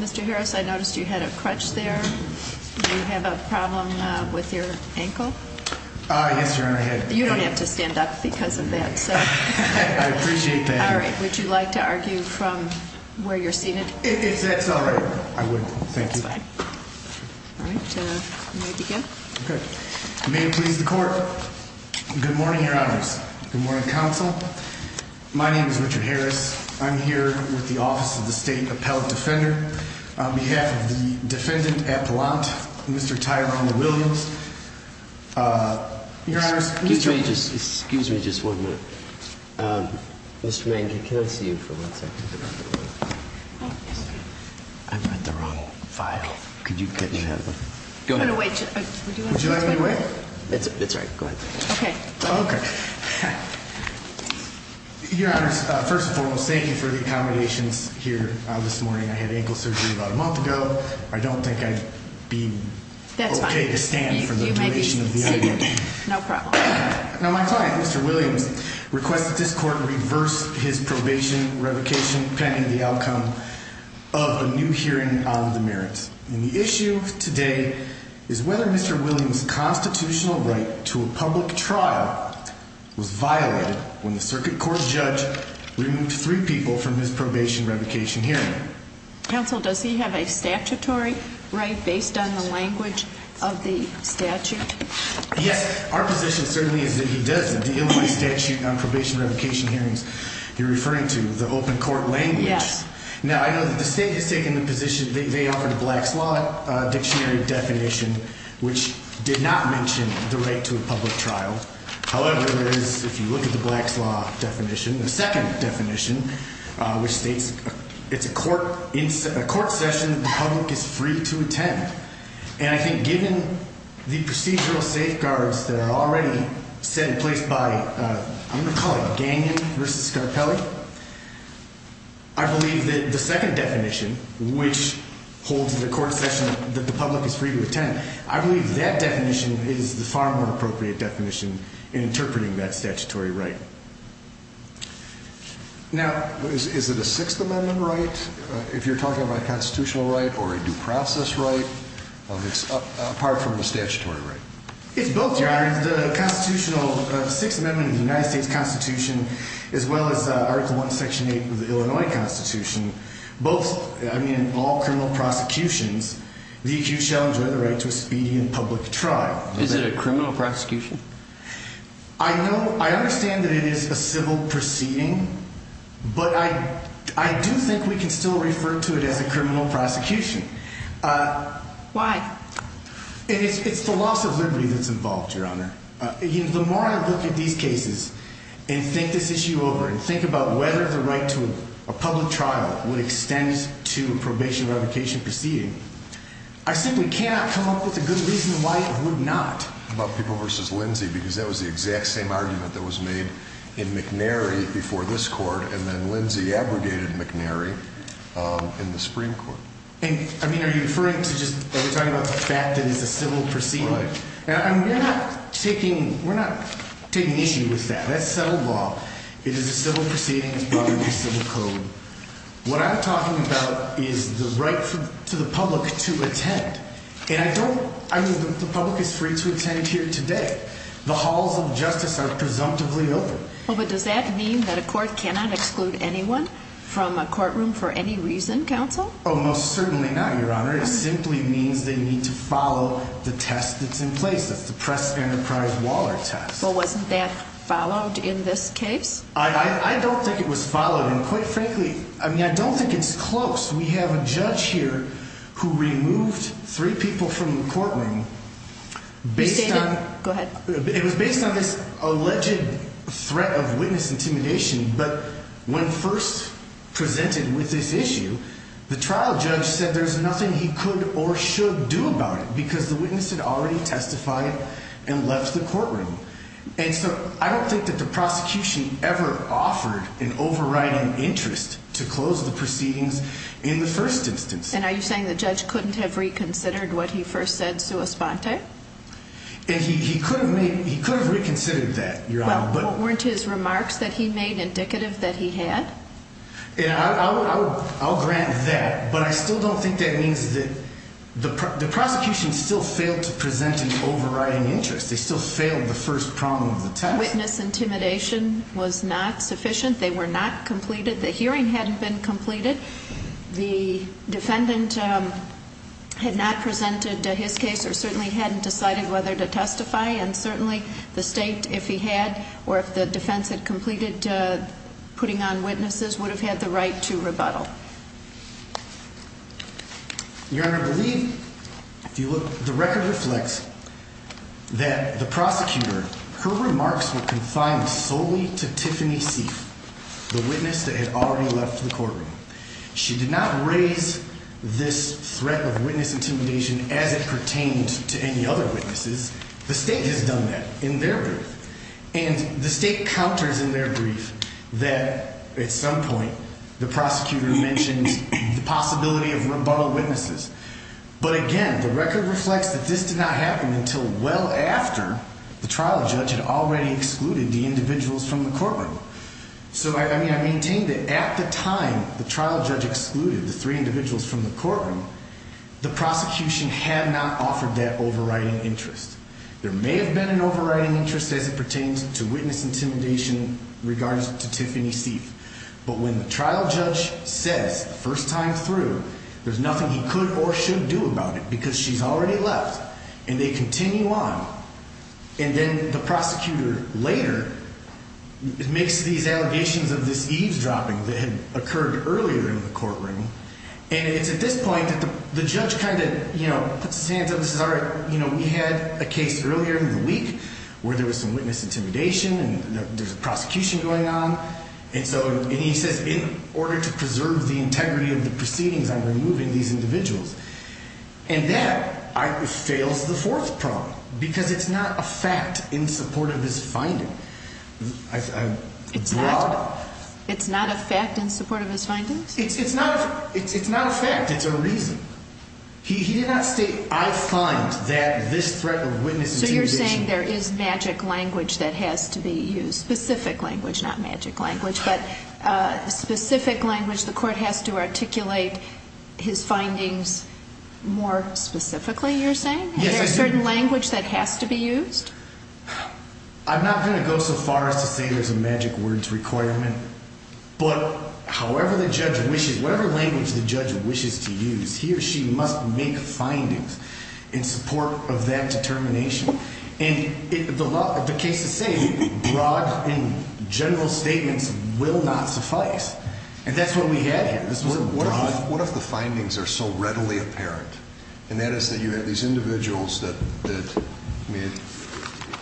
Mr. Harris, I noticed you had a crutch there. Do you have a problem with your ankle? You don't have to stand up because of that. So I appreciate that. All right. Would you like to argue from where you're seated? If that's all right, I would. Thank you. May it please the court. Good morning, Your Honors. Good morning, Counsel. My name is Richard Harris. I'm here with the Office of the State Appellate Defender on behalf of the defendant at Blount, Mr. Tyler Williams. Excuse me. Just excuse me. Just one minute. Mr. Mankin, can I see you for one second? I put the wrong file. Could you go away? Would you like me to wait? It's right. Go ahead. Okay. Okay. Your Honor, first of all, thank you for the accommodations here this morning. I had ankle surgery about a month ago. I don't think I'd be okay to stand for the duration of the argument. No problem. Now, my client, Mr. Williams, requested this court reverse his probation revocation pending the outcome of a new hearing on the merits. And the issue today is whether Mr. Williams' constitutional right to a public trial was violated when the circuit court judge removed three people from his probation revocation hearing. Counsel, does he have a statutory right based on the language of the statute? Yes. Our position certainly is that he does. The Illinois statute on probation revocation hearings you're referring to, the open court language. Now, I know that the state has taken the position, they offered a Black's Law dictionary definition, which did not mention the right to a public trial. However, there is, if you look at the Black's Law definition, the second definition, which states it's a court session the public is free to attend. And I think given the procedural safeguards that are already set in place by, I'm going to call it Gagnon versus Scarpelli, I believe that the second definition, which holds the court session that the public is free to attend, I believe that definition is the far more appropriate definition in interpreting that statutory right. Now, is it a Sixth Amendment right, if you're talking about a constitutional right or a due process right, apart from the statutory right? It's both, Your Honor. The Sixth Amendment of the United States Constitution, as well as Article I, Section 8 of the Illinois Constitution, both, I mean, in all criminal prosecutions, the accused shall enjoy the right to a speedy and public trial. Is it a criminal prosecution? I know, I understand that it is a civil proceeding, but I do think we can still refer to it as a criminal prosecution. Why? It's the loss of liberty that's involved, Your Honor. The more I look at these cases and think this issue over and think about whether the right to a public trial would extend to a probation revocation proceeding, I simply cannot come up with a good reason why it would not. About people versus Lindsay, because that was the exact same argument that was made in McNary before this court, and then Lindsay abrogated McNary in the Supreme Court. And, I mean, are you referring to just, are we talking about the fact that it's a civil proceeding? No, Your Honor. We're not taking issue with that. That's settled law. It is a civil proceeding. It's part of the Civil Code. What I'm talking about is the right to the public to attend. And I don't, I mean, the public is free to attend here today. The halls of justice are presumptively open. Well, but does that mean that a court cannot exclude anyone from a courtroom for any reason, Counsel? Oh, most certainly not, Your Honor. It simply means they need to follow the test that's in place. That's the Press-Enterprise-Waller test. Well, wasn't that followed in this case? I don't think it was followed. And, quite frankly, I mean, I don't think it's close. We have a judge here who removed three people from the courtroom based on... Go ahead. It was based on this alleged threat of witness intimidation. But when first presented with this issue, the trial judge said there's nothing he could or should do about it because the witness had already testified and left the courtroom. And so I don't think that the prosecution ever offered an overriding interest to close the proceedings in the first instance. And are you saying the judge couldn't have reconsidered what he first said sua sponte? And he could have reconsidered that, Your Honor. Well, weren't his remarks that he made indicative that he had? I'll grant that, but I still don't think that means that the prosecution still failed to present an overriding interest. They still failed the first problem of the test. Witness intimidation was not sufficient. They were not completed. The hearing hadn't been completed. The defendant had not presented his case or certainly hadn't decided whether to testify. And certainly the state, if he had or if the defense had completed putting on witnesses, would have had the right to rebuttal. Your Honor, I believe, if you look, the record reflects that the prosecutor, her remarks were confined solely to Tiffany Seif, the witness that had already left the courtroom. She did not raise this threat of witness intimidation as it pertained to any other witnesses. The state has done that in their brief. And the state counters in their brief that at some point the prosecutor mentioned the possibility of rebuttal witnesses. But again, the record reflects that this did not happen until well after the trial judge had already excluded the individuals from the courtroom. So, I mean, I maintain that at the time the trial judge excluded the three individuals from the courtroom, the prosecution had not offered that overriding interest. There may have been an overriding interest as it pertains to witness intimidation regarding to Tiffany Seif. But when the trial judge says the first time through there's nothing he could or should do about it because she's already left and they continue on. And then the prosecutor later makes these allegations of this eavesdropping that had occurred earlier in the courtroom. And it's at this point that the judge kind of, you know, puts his hands up and says, all right, you know, we had a case earlier in the week where there was some witness intimidation and there's a prosecution going on. And so he says in order to preserve the integrity of the proceedings, I'm removing these individuals. And that fails the fourth problem because it's not a fact in support of his finding. It's not a fact in support of his findings? It's not a fact. It's a reason. He did not state I find that this threat of witness intimidation. You're saying there is magic language that has to be used. Specific language, not magic language. But specific language the court has to articulate his findings more specifically, you're saying? Yes. Is there a certain language that has to be used? I'm not going to go so far as to say there's a magic words requirement. But however the judge wishes, whatever language the judge wishes to use, he or she must make findings in support of that determination. And the case is saying broad and general statements will not suffice. And that's what we had here. What if the findings are so readily apparent? And that is that you have these individuals that, I mean,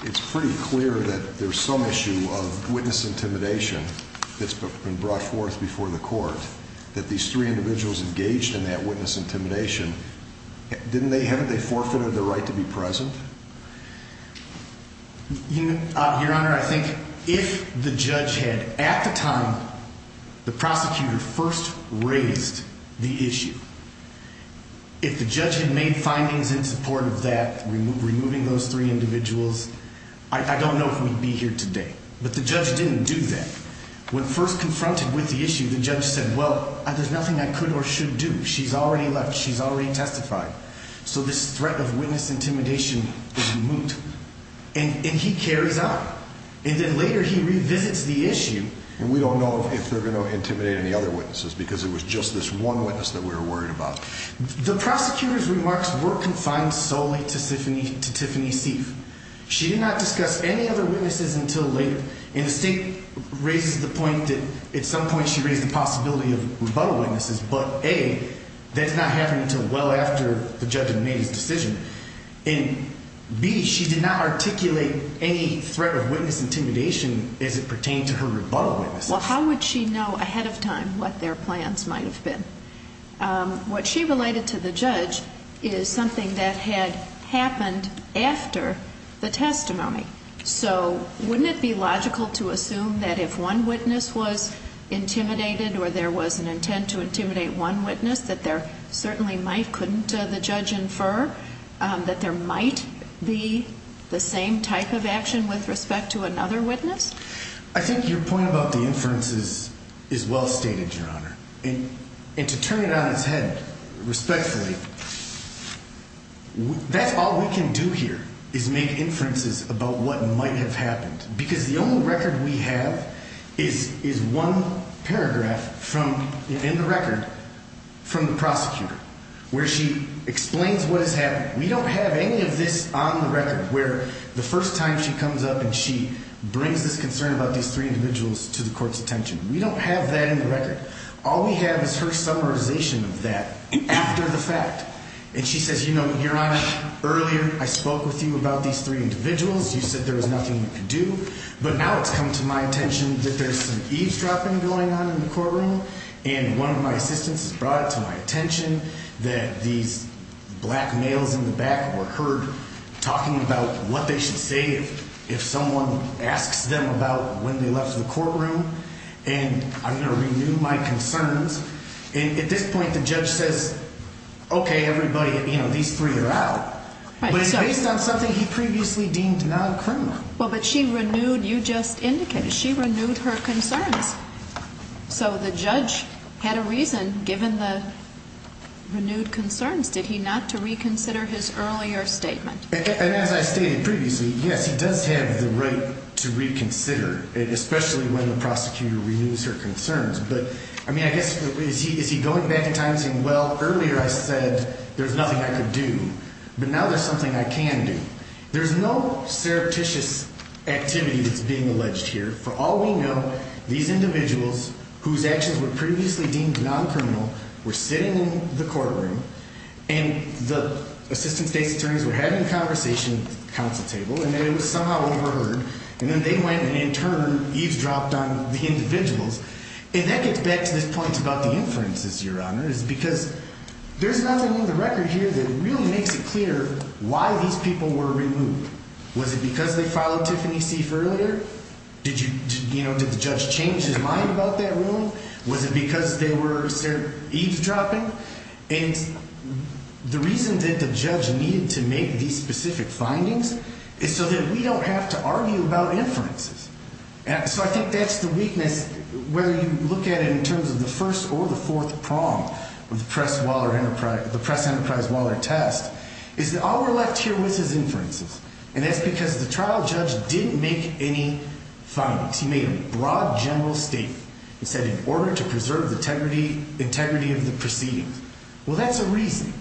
it's pretty clear that there's some issue of witness intimidation that's been brought forth before the court. That these three individuals engaged in that witness intimidation, haven't they forfeited their right to be present? Your Honor, I think if the judge had, at the time, the prosecutor first raised the issue, if the judge had made findings in support of that, removing those three individuals, I don't know if we'd be here today. But the judge didn't do that. When first confronted with the issue, the judge said, well, there's nothing I could or should do. She's already left. She's already testified. So this threat of witness intimidation is moot. And he carries on. And then later he revisits the issue. And we don't know if they're going to intimidate any other witnesses because it was just this one witness that we were worried about. The prosecutor's remarks were confined solely to Tiffany Seif. She did not discuss any other witnesses until later. And the state raises the point that at some point she raised the possibility of rebuttal witnesses. But, A, that's not happening until well after the judge had made his decision. And, B, she did not articulate any threat of witness intimidation as it pertained to her rebuttal witnesses. Well, how would she know ahead of time what their plans might have been? What she related to the judge is something that had happened after the testimony. So wouldn't it be logical to assume that if one witness was intimidated or there was an intent to intimidate one witness, that there certainly might, couldn't the judge infer that there might be the same type of action with respect to another witness? I think your point about the inferences is well stated, Your Honor. And to turn it on its head respectfully, that's all we can do here is make inferences about what might have happened. Because the only record we have is one paragraph from, in the record, from the prosecutor where she explains what has happened. We don't have any of this on the record where the first time she comes up and she brings this concern about these three individuals to the court's attention. We don't have that in the record. All we have is her summarization of that after the fact. And she says, You know, Your Honor, earlier I spoke with you about these three individuals. You said there was nothing you could do. But now it's come to my attention that there's some eavesdropping going on in the courtroom, and one of my assistants has brought it to my attention that these black males in the back were heard talking about what they should say if someone asks them about when they left the courtroom. And I'm going to renew my concerns. And at this point the judge says, Okay, everybody, you know, these three are out. But it's based on something he previously deemed non-criminal. Well, but she renewed, you just indicated, she renewed her concerns. So the judge had a reason, given the renewed concerns, did he not to reconsider his earlier statement? And as I stated previously, yes, he does have the right to reconsider, especially when the prosecutor renews her concerns. But, I mean, I guess is he going back in time and saying, Well, earlier I said there's nothing I could do, but now there's something I can do. There's no surreptitious activity that's being alleged here. For all we know, these individuals whose actions were previously deemed non-criminal were sitting in the courtroom, and the assistant state's attorneys were having a conversation at the council table, and then it was somehow overheard, and then they went and in turn eavesdropped on the individuals. And that gets back to this point about the inferences, Your Honor, is because there's nothing in the record here that really makes it clear why these people were removed. Was it because they followed Tiffany Seif earlier? Did you, you know, did the judge change his mind about that ruling? Was it because they were eavesdropping? And the reason that the judge needed to make these specific findings is so that we don't have to argue about inferences. So I think that's the weakness, whether you look at it in terms of the first or the fourth prong of the press enterprise Waller test, is that all we're left here with is inferences, and that's because the trial judge didn't make any findings. He made a broad general statement. He said in order to preserve the integrity of the proceedings. Well, that's a reason.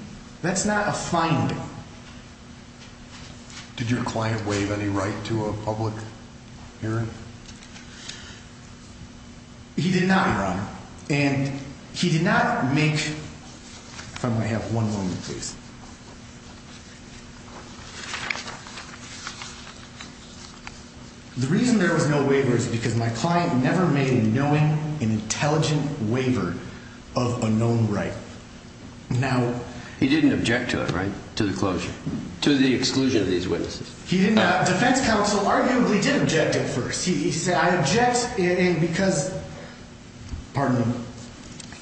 That's not a finding. Did your client waive any right to a public hearing? He did not, Your Honor. And he did not make, if I may have one moment, please. The reason there was no waiver is because my client never made a knowing and intelligent waiver of a known right. Now, he didn't object to it, right to the closure to the exclusion of these witnesses. He didn't have defense counsel. Arguably did object at first. He said, I object. And because, pardon me,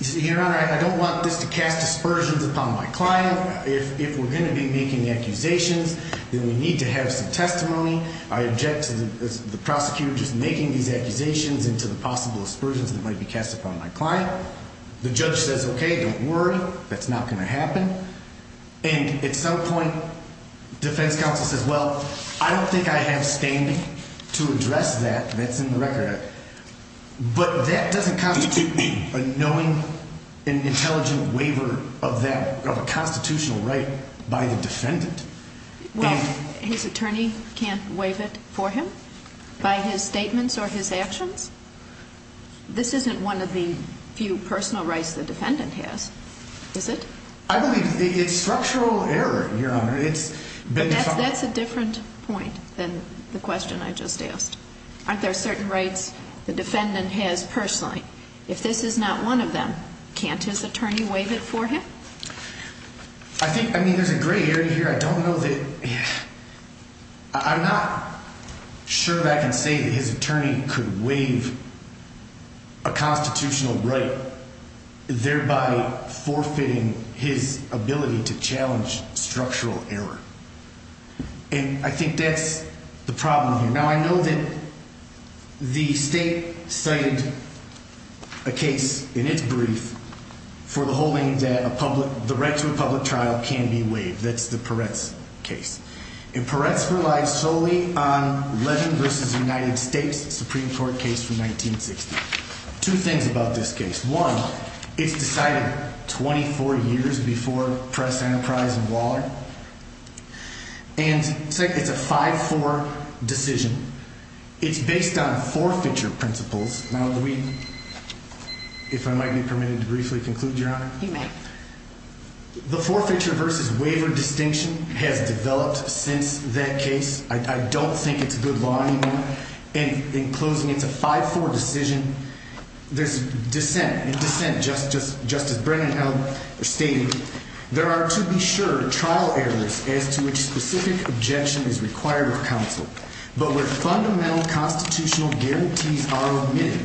Your Honor, I don't want this to cast aspersions upon my client. If we're going to be making accusations, then we need to have some testimony. I object to the prosecutor just making these accusations into the possible aspersions that might be cast upon my client. The judge says, OK, don't worry. That's not going to happen. And at some point, defense counsel says, well, I don't think I have standing to address that. That's in the record. But that doesn't constitute a knowing and intelligent waiver of that constitutional right by the defendant. Well, his attorney can't waive it for him by his statements or his actions? This isn't one of the few personal rights the defendant has, is it? I believe it's structural error, Your Honor. That's a different point than the question I just asked. Aren't there certain rights the defendant has personally? If this is not one of them, can't his attorney waive it for him? I think, I mean, there's a gray area here. I don't know that, I'm not sure that I can say that his attorney could waive a constitutional right thereby forfeiting his ability to challenge structural error. And I think that's the problem here. Now, I know that the state cited a case in its brief for the holding that the right to a public trial can be waived. That's the Peretz case. And Peretz relies solely on Levin v. United States Supreme Court case from 1960. Two things about this case. One, it's decided 24 years before Press, Enterprise, and Waller. And second, it's a 5-4 decision. It's based on forfeiture principles. Now, if I might be permitted to briefly conclude, Your Honor. You may. The forfeiture versus waiver distinction has developed since that case. I don't think it's good law anymore. And in closing, it's a 5-4 decision. In dissent, Justice Brennan stated, There are, to be sure, trial areas as to which specific objection is required of counsel, but where fundamental constitutional guarantees are omitted.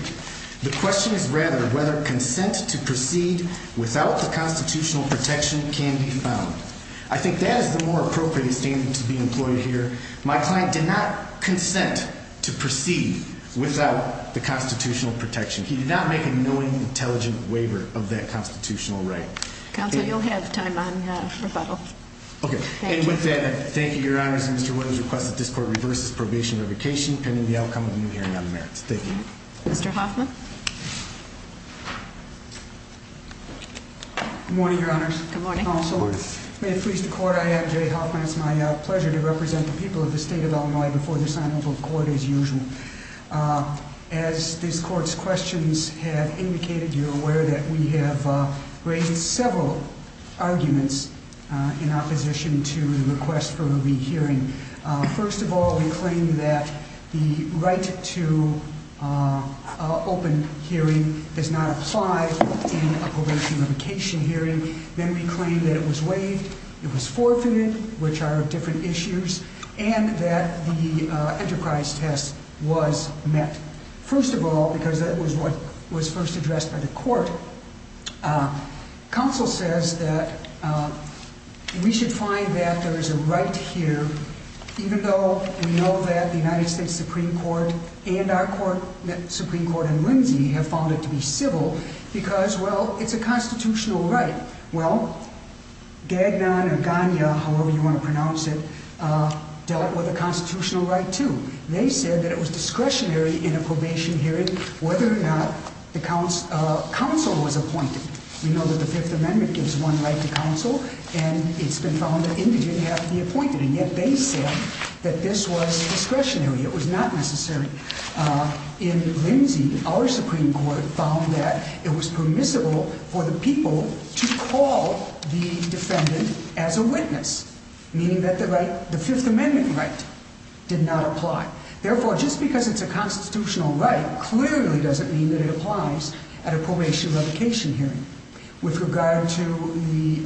The question is, rather, whether consent to proceed without the constitutional protection can be found. I think that is the more appropriate statement to be employed here. My client did not consent to proceed without the constitutional protection. He did not make a knowing, intelligent waiver of that constitutional right. Counsel, you'll have time on rebuttal. Okay. And with that, I thank you, Your Honors. And Mr. Williams requests that this Court reverses probation and revocation pending the outcome of the new hearing on the merits. Thank you. Mr. Hoffman? Good morning, Your Honors. Good morning. May it please the Court, I am Jerry Hoffman. It's my pleasure to represent the people of the State of Illinois before the Assembly of Court as usual. As this Court's questions have indicated, you're aware that we have raised several arguments in opposition to the request for a re-hearing. First of all, we claim that the right to open hearing does not apply in a probation and revocation hearing. Then we claim that it was waived, it was forfeited, which are different issues, and that the enterprise test was met. First of all, because that was what was first addressed by the Court, counsel says that we should find that there is a right here, even though we know that the United States Supreme Court and our Supreme Court in Lindsay have found it to be civil, because, well, it's a constitutional right. Well, Gagnon or Gagnon, however you want to pronounce it, dealt with a constitutional right, too. They said that it was discretionary in a probation hearing whether or not counsel was appointed. We know that the Fifth Amendment gives one right to counsel, and it's been found that indigent have to be appointed, and yet they said that this was discretionary, it was not necessary. In Lindsay, our Supreme Court found that it was permissible for the people to call the defendant as a witness, meaning that the Fifth Amendment right did not apply. Therefore, just because it's a constitutional right clearly doesn't mean that it applies at a probation and revocation hearing. With regard to the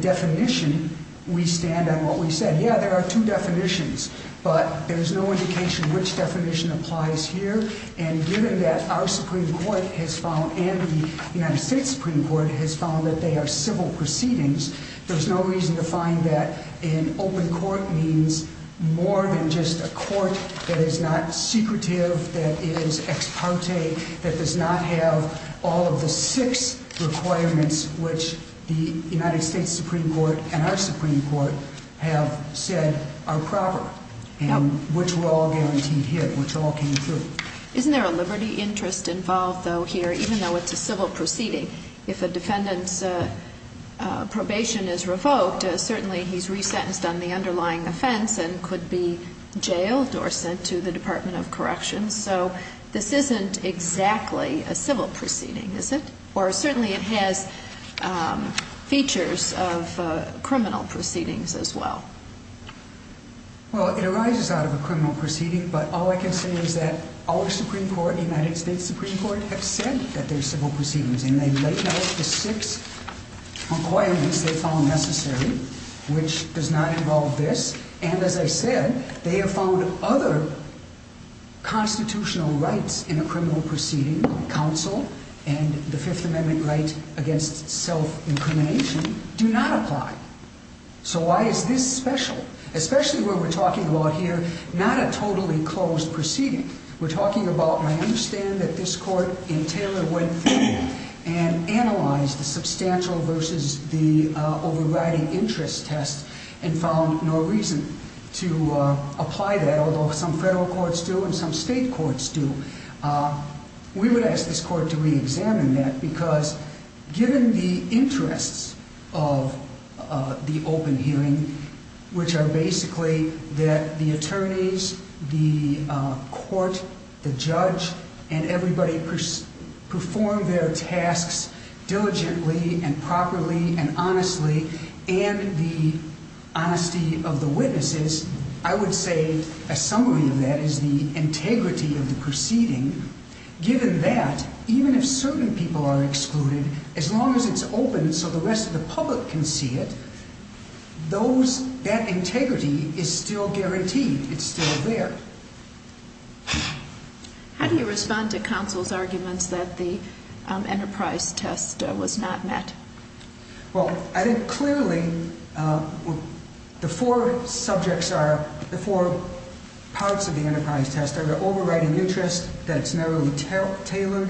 definition, we stand on what we said. Yeah, there are two definitions, but there's no indication which definition applies here, and given that our Supreme Court has found and the United States Supreme Court has found that they are civil proceedings, there's no reason to find that an open court means more than just a court that is not secretive, that is ex parte, that does not have all of the six requirements which the United States Supreme Court and our Supreme Court have said are proper and which were all guaranteed here, which all came through. Isn't there a liberty interest involved, though, here, even though it's a civil proceeding? If a defendant's probation is revoked, certainly he's resentenced on the underlying offense and could be jailed or sent to the Department of Corrections. So this isn't exactly a civil proceeding, is it? Or certainly it has features of criminal proceedings as well. Well, it arises out of a criminal proceeding, but all I can say is that our Supreme Court and the United States Supreme Court have said that they're civil proceedings, and they laid out the six requirements they found necessary, which does not involve this. And as I said, they have found other constitutional rights in a criminal proceeding, counsel and the Fifth Amendment right against self-incrimination, do not apply. So why is this special, especially when we're talking about here not a totally closed proceeding? We're talking about my understanding that this Court in Taylor went through and analyzed the substantial versus the overriding interest test and found no reason to apply that, although some federal courts do and some state courts do. We would ask this Court to reexamine that because given the interests of the open hearing, which are basically that the attorneys, the court, the judge, and everybody perform their tasks diligently and properly and honestly and the honesty of the witnesses, I would say a summary of that is the integrity of the proceeding. Given that, even if certain people are excluded, as long as it's open so the rest of the public can see it, that integrity is still guaranteed. It's still there. How do you respond to counsel's arguments that the enterprise test was not met? Well, I think clearly the four subjects are, the four parts of the enterprise test are the overriding interest, that it's narrowly tailored,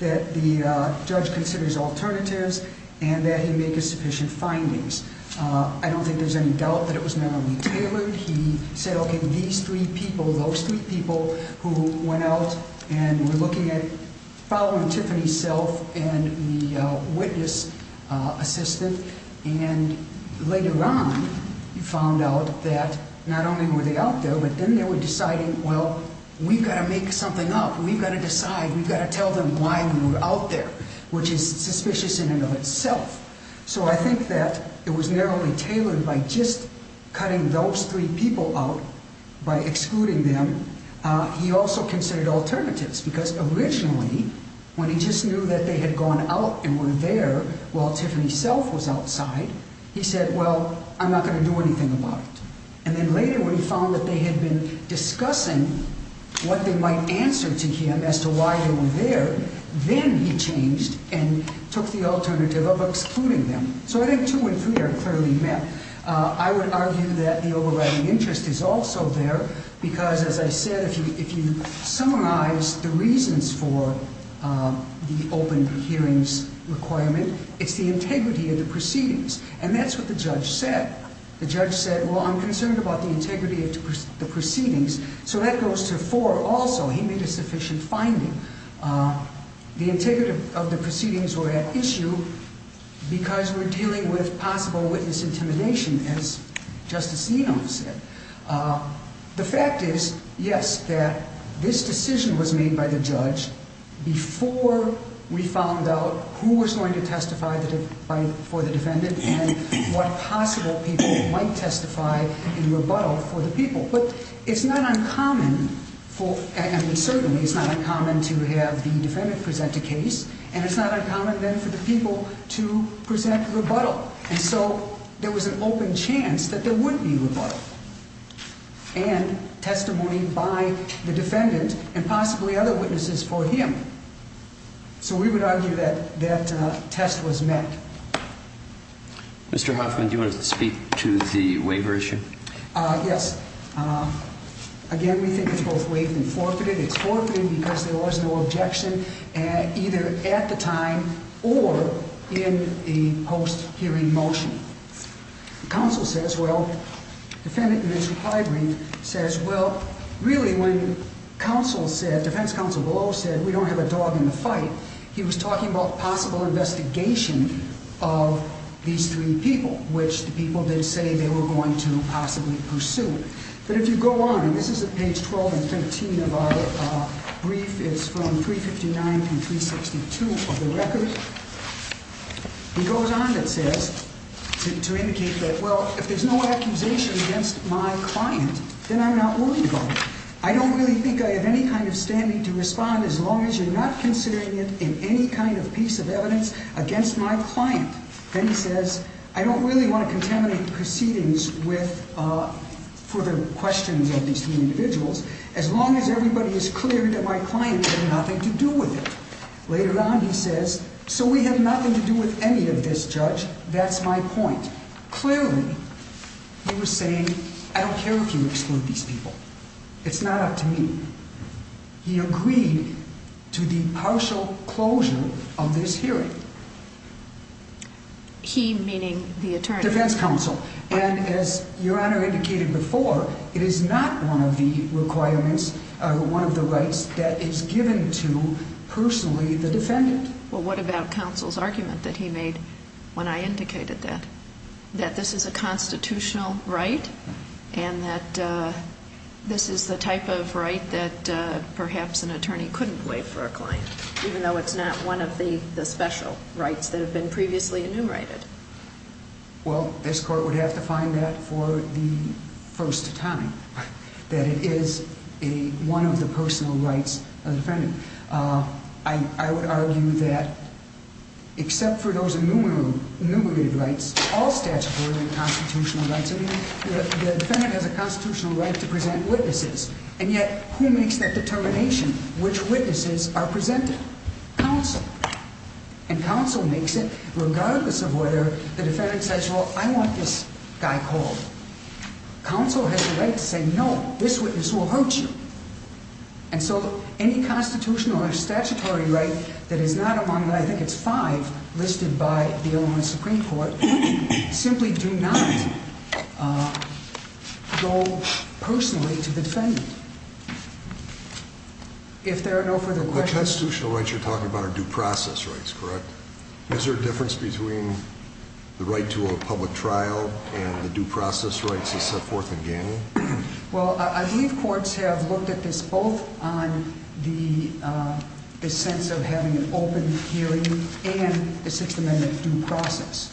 that the judge considers alternatives, and that he make sufficient findings. I don't think there's any doubt that it was narrowly tailored. He said, okay, these three people, those three people who went out and were looking at following Tiffany's self and the witness assistant, and later on found out that not only were they out there, but then they were deciding, well, we've got to make something up. We've got to decide. We've got to tell them why we were out there, which is suspicious in and of itself. So I think that it was narrowly tailored by just cutting those three people out by excluding them. He also considered alternatives because originally when he just knew that they had gone out and were there while Tiffany's self was outside, he said, well, I'm not going to do anything about it. And then later when he found that they had been discussing what they might answer to him as to why they were there, then he changed and took the alternative of excluding them. So I think two and three are clearly met. I would argue that the overriding interest is also there because, as I said, if you summarize the reasons for the open hearings requirement, it's the integrity of the proceedings. And that's what the judge said. The judge said, well, I'm concerned about the integrity of the proceedings. So that goes to four also. He made a sufficient finding. The integrity of the proceedings were at issue because we're dealing with possible witness intimidation, as Justice Enum said. The fact is, yes, that this decision was made by the judge before we found out who was going to testify for the defendant and what possible people might testify in rebuttal for the people. But it's not uncommon for – I mean, certainly it's not uncommon to have the defendant present a case, and it's not uncommon then for the people to present rebuttal. And so there was an open chance that there would be rebuttal and testimony by the defendant and possibly other witnesses for him. So we would argue that that test was met. Mr. Hoffman, do you want to speak to the waiver issue? Yes. Again, we think it's both waived and forfeited. It's forfeited because there was no objection either at the time or in the post-hearing motion. The counsel says – well, the defendant in this high brief says, well, really when counsel said – defense counsel below said we don't have a dog in the fight, he was talking about possible investigation of these three people, which the people did say they were going to possibly pursue. But if you go on – and this is at page 12 and 13 of our brief. It's from 359 and 362 of the record. He goes on and says, to indicate that, well, if there's no accusation against my client, then I'm not willing to go. I don't really think I have any kind of standing to respond as long as you're not considering it in any kind of piece of evidence against my client. Then he says, I don't really want to contaminate proceedings for the questions of these three individuals as long as everybody is clear that my client had nothing to do with it. Later on, he says, so we have nothing to do with any of this, Judge, that's my point. Clearly, he was saying, I don't care if you exclude these people. It's not up to me. He agreed to the partial closure of this hearing. He, meaning the attorney? Defense counsel. And as Your Honor indicated before, it is not one of the requirements or one of the rights that is given to, personally, the defendant. Well, what about counsel's argument that he made when I indicated that? That this is a constitutional right and that this is the type of right that perhaps an attorney couldn't waive for a client, even though it's not one of the special rights that have been previously enumerated? Well, this court would have to find that for the first time, that it is one of the personal rights of the defendant. I would argue that, except for those enumerated rights, all statutory and constitutional rights, the defendant has a constitutional right to present witnesses. And yet, who makes that determination which witnesses are presented? Counsel. And counsel makes it regardless of whether the defendant says, well, I want this guy called. Counsel has the right to say, no, this witness will hurt you. And so, any constitutional or statutory right that is not among, I think it's five listed by the Illinois Supreme Court, simply do not go personally to the defendant. If there are no further questions. The constitutional rights you're talking about are due process rights, correct? Is there a difference between the right to a public trial and the due process rights as set forth in GANI? Well, I believe courts have looked at this both on the sense of having an open hearing and the Sixth Amendment due process.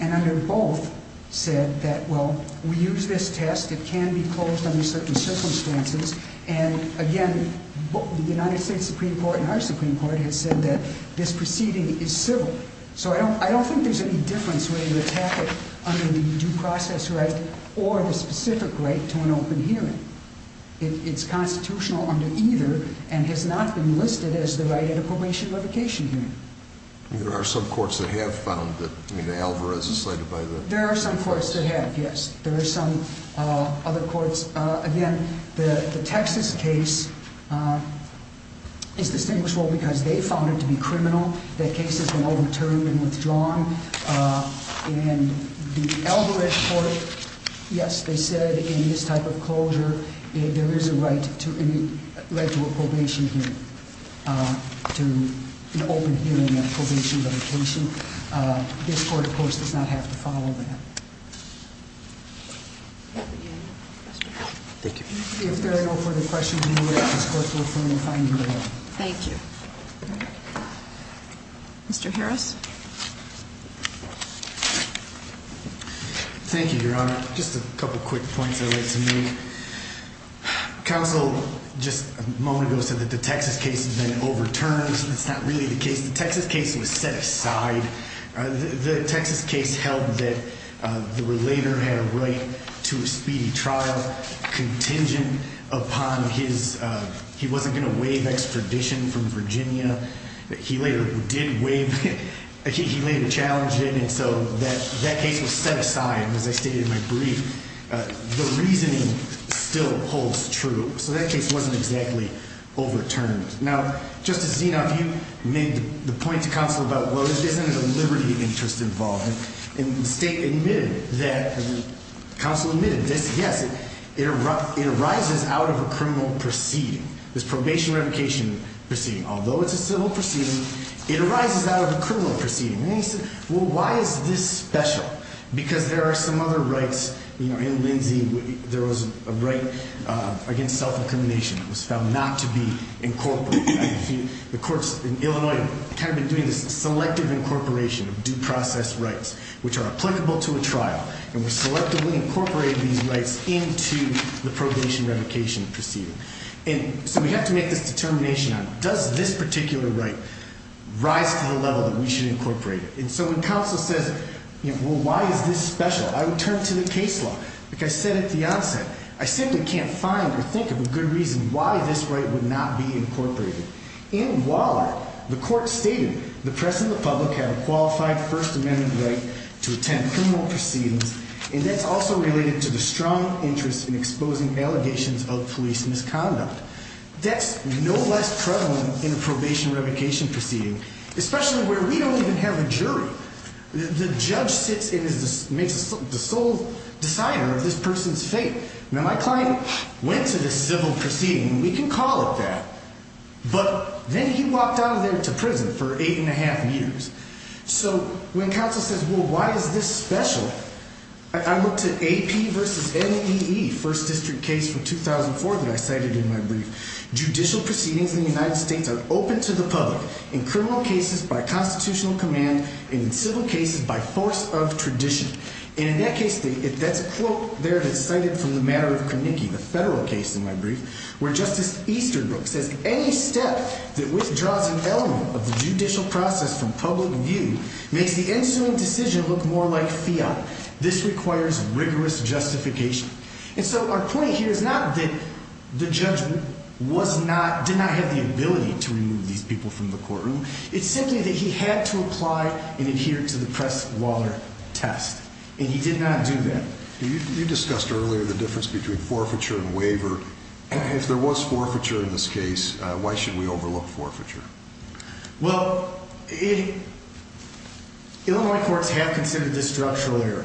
And under both said that, well, we use this test. It can be closed under certain circumstances. And again, the United States Supreme Court and our Supreme Court has said that this proceeding is civil. So, I don't think there's any difference whether you attack it under the due process right or the specific right to an open hearing. It's constitutional under either and has not been listed as the right at a probation revocation hearing. There are some courts that have found that, I mean, Alvarez is cited by the- There are some courts that have, yes. There are some other courts. Again, the Texas case is distinguishable because they found it to be criminal. That case has been overturned and withdrawn. And the Alvarez court, yes, they said in this type of closure, there is a right to a probation hearing, to an open hearing and probation revocation. This court, of course, does not have to follow that. Thank you. If there are no further questions, we will let this court look for any findings. Thank you. Mr. Harris. Thank you, Your Honor. Just a couple quick points I'd like to make. Counsel just a moment ago said that the Texas case has been overturned. That's not really the case. The Texas case was set aside. The Texas case held that the relator had a right to a speedy trial contingent upon his-he wasn't going to waive extradition from Virginia. He later challenged it. And so that case was set aside, as I stated in my brief. The reasoning still holds true. So that case wasn't exactly overturned. Now, Justice Zinoff, you made the point to counsel about, well, isn't it a liberty interest involved? And the state admitted that, and the counsel admitted this, yes, it arises out of a criminal proceeding, this probation revocation proceeding. Although it's a civil proceeding, it arises out of a criminal proceeding. And he said, well, why is this special? Because there are some other rights, you know, in Lindsay, there was a right against self-incrimination. It was found not to be incorporated. The courts in Illinois have kind of been doing this selective incorporation of due process rights, which are applicable to a trial. And we selectively incorporated these rights into the probation revocation proceeding. And so we have to make this determination on, does this particular right rise to the level that we should incorporate it? And so when counsel says, well, why is this special? I would turn to the case law, like I said at the onset. I simply can't find or think of a good reason why this right would not be incorporated. In Waller, the court stated the press and the public have a qualified First Amendment right to attend criminal proceedings. And that's also related to the strong interest in exposing allegations of police misconduct. That's no less prevalent in a probation revocation proceeding, especially where we don't even have a jury. The judge sits and is the sole decider of this person's fate. Now, my client went to this civil proceeding. We can call it that. But then he walked out of there to prison for eight and a half years. So when counsel says, well, why is this special? I looked at AP versus MEE, first district case from 2004 that I cited in my brief. Judicial proceedings in the United States are open to the public in criminal cases by constitutional command and in civil cases by force of tradition. And in that case, that's a quote there that's cited from the matter of Carnicky, the federal case in my brief, where Justice Easterbrook says, any step that withdraws an element of the judicial process from public view makes the ensuing decision look more like fiat. This requires rigorous justification. And so our point here is not that the judge was not did not have the ability to remove these people from the courtroom. It's simply that he had to apply and adhere to the press. Waller test. And he did not do that. You discussed earlier the difference between forfeiture and waiver. If there was forfeiture in this case, why should we overlook forfeiture? Well, Illinois courts have considered this structural error.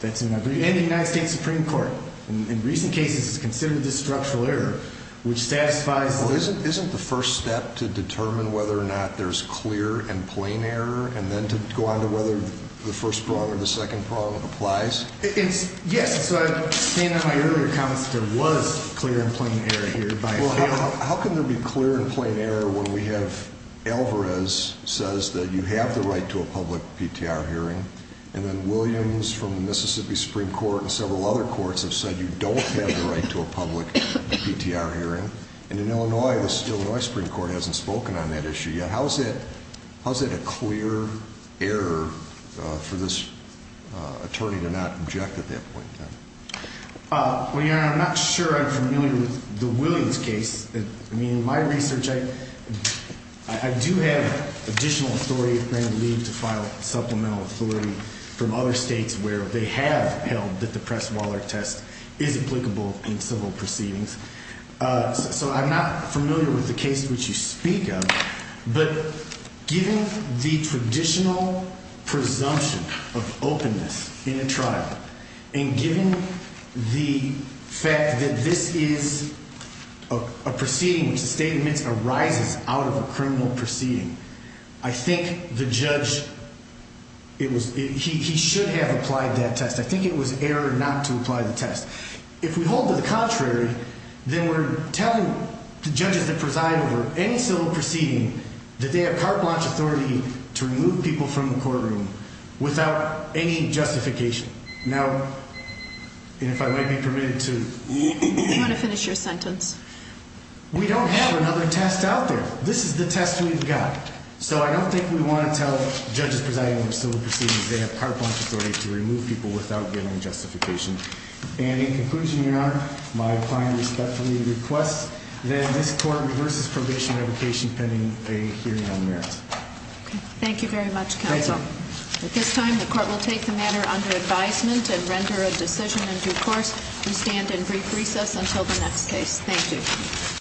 That's in the United States Supreme Court. In recent cases, it's considered this structural error, which satisfies. Well, isn't isn't the first step to determine whether or not there's clear and plain error and then to go on to whether the first prong or the second prong applies? Yes. So I stand on my earlier comments. There was clear and plain error here. How can there be clear and plain error when we have Alvarez says that you have the right to a public PTR hearing? And then Williams from Mississippi Supreme Court and several other courts have said you don't have the right to a public PTR hearing. And in Illinois, the Illinois Supreme Court hasn't spoken on that issue yet. How is it? How is it a clear error for this attorney to not object at that point? I'm not sure I'm familiar with the Williams case. I mean, my research. I do have additional authority to file supplemental authority from other states where they have held that the press. Waller test is applicable in civil proceedings. So I'm not familiar with the case which you speak of. But given the traditional presumption of openness in a trial and given the fact that this is a proceeding, which the statement arises out of a criminal proceeding. I think the judge, it was he should have applied that test. I think it was error not to apply the test. If we hold to the contrary, then we're telling the judges that preside over any civil proceeding that they have carte blanche authority to remove people from the courtroom without any justification. Now, if I may be permitted to finish your sentence, we don't have another test out there. This is the test we've got. So I don't think we want to tell judges presiding over civil proceedings. They have carte blanche authority to remove people without giving justification. And in conclusion, your honor, my client respectfully requests that this court reverses probation revocation pending a hearing on merit. Thank you very much, counsel. At this time, the court will take the matter under advisement and render a decision in due course. We stand in brief recess until the next case. Thank you.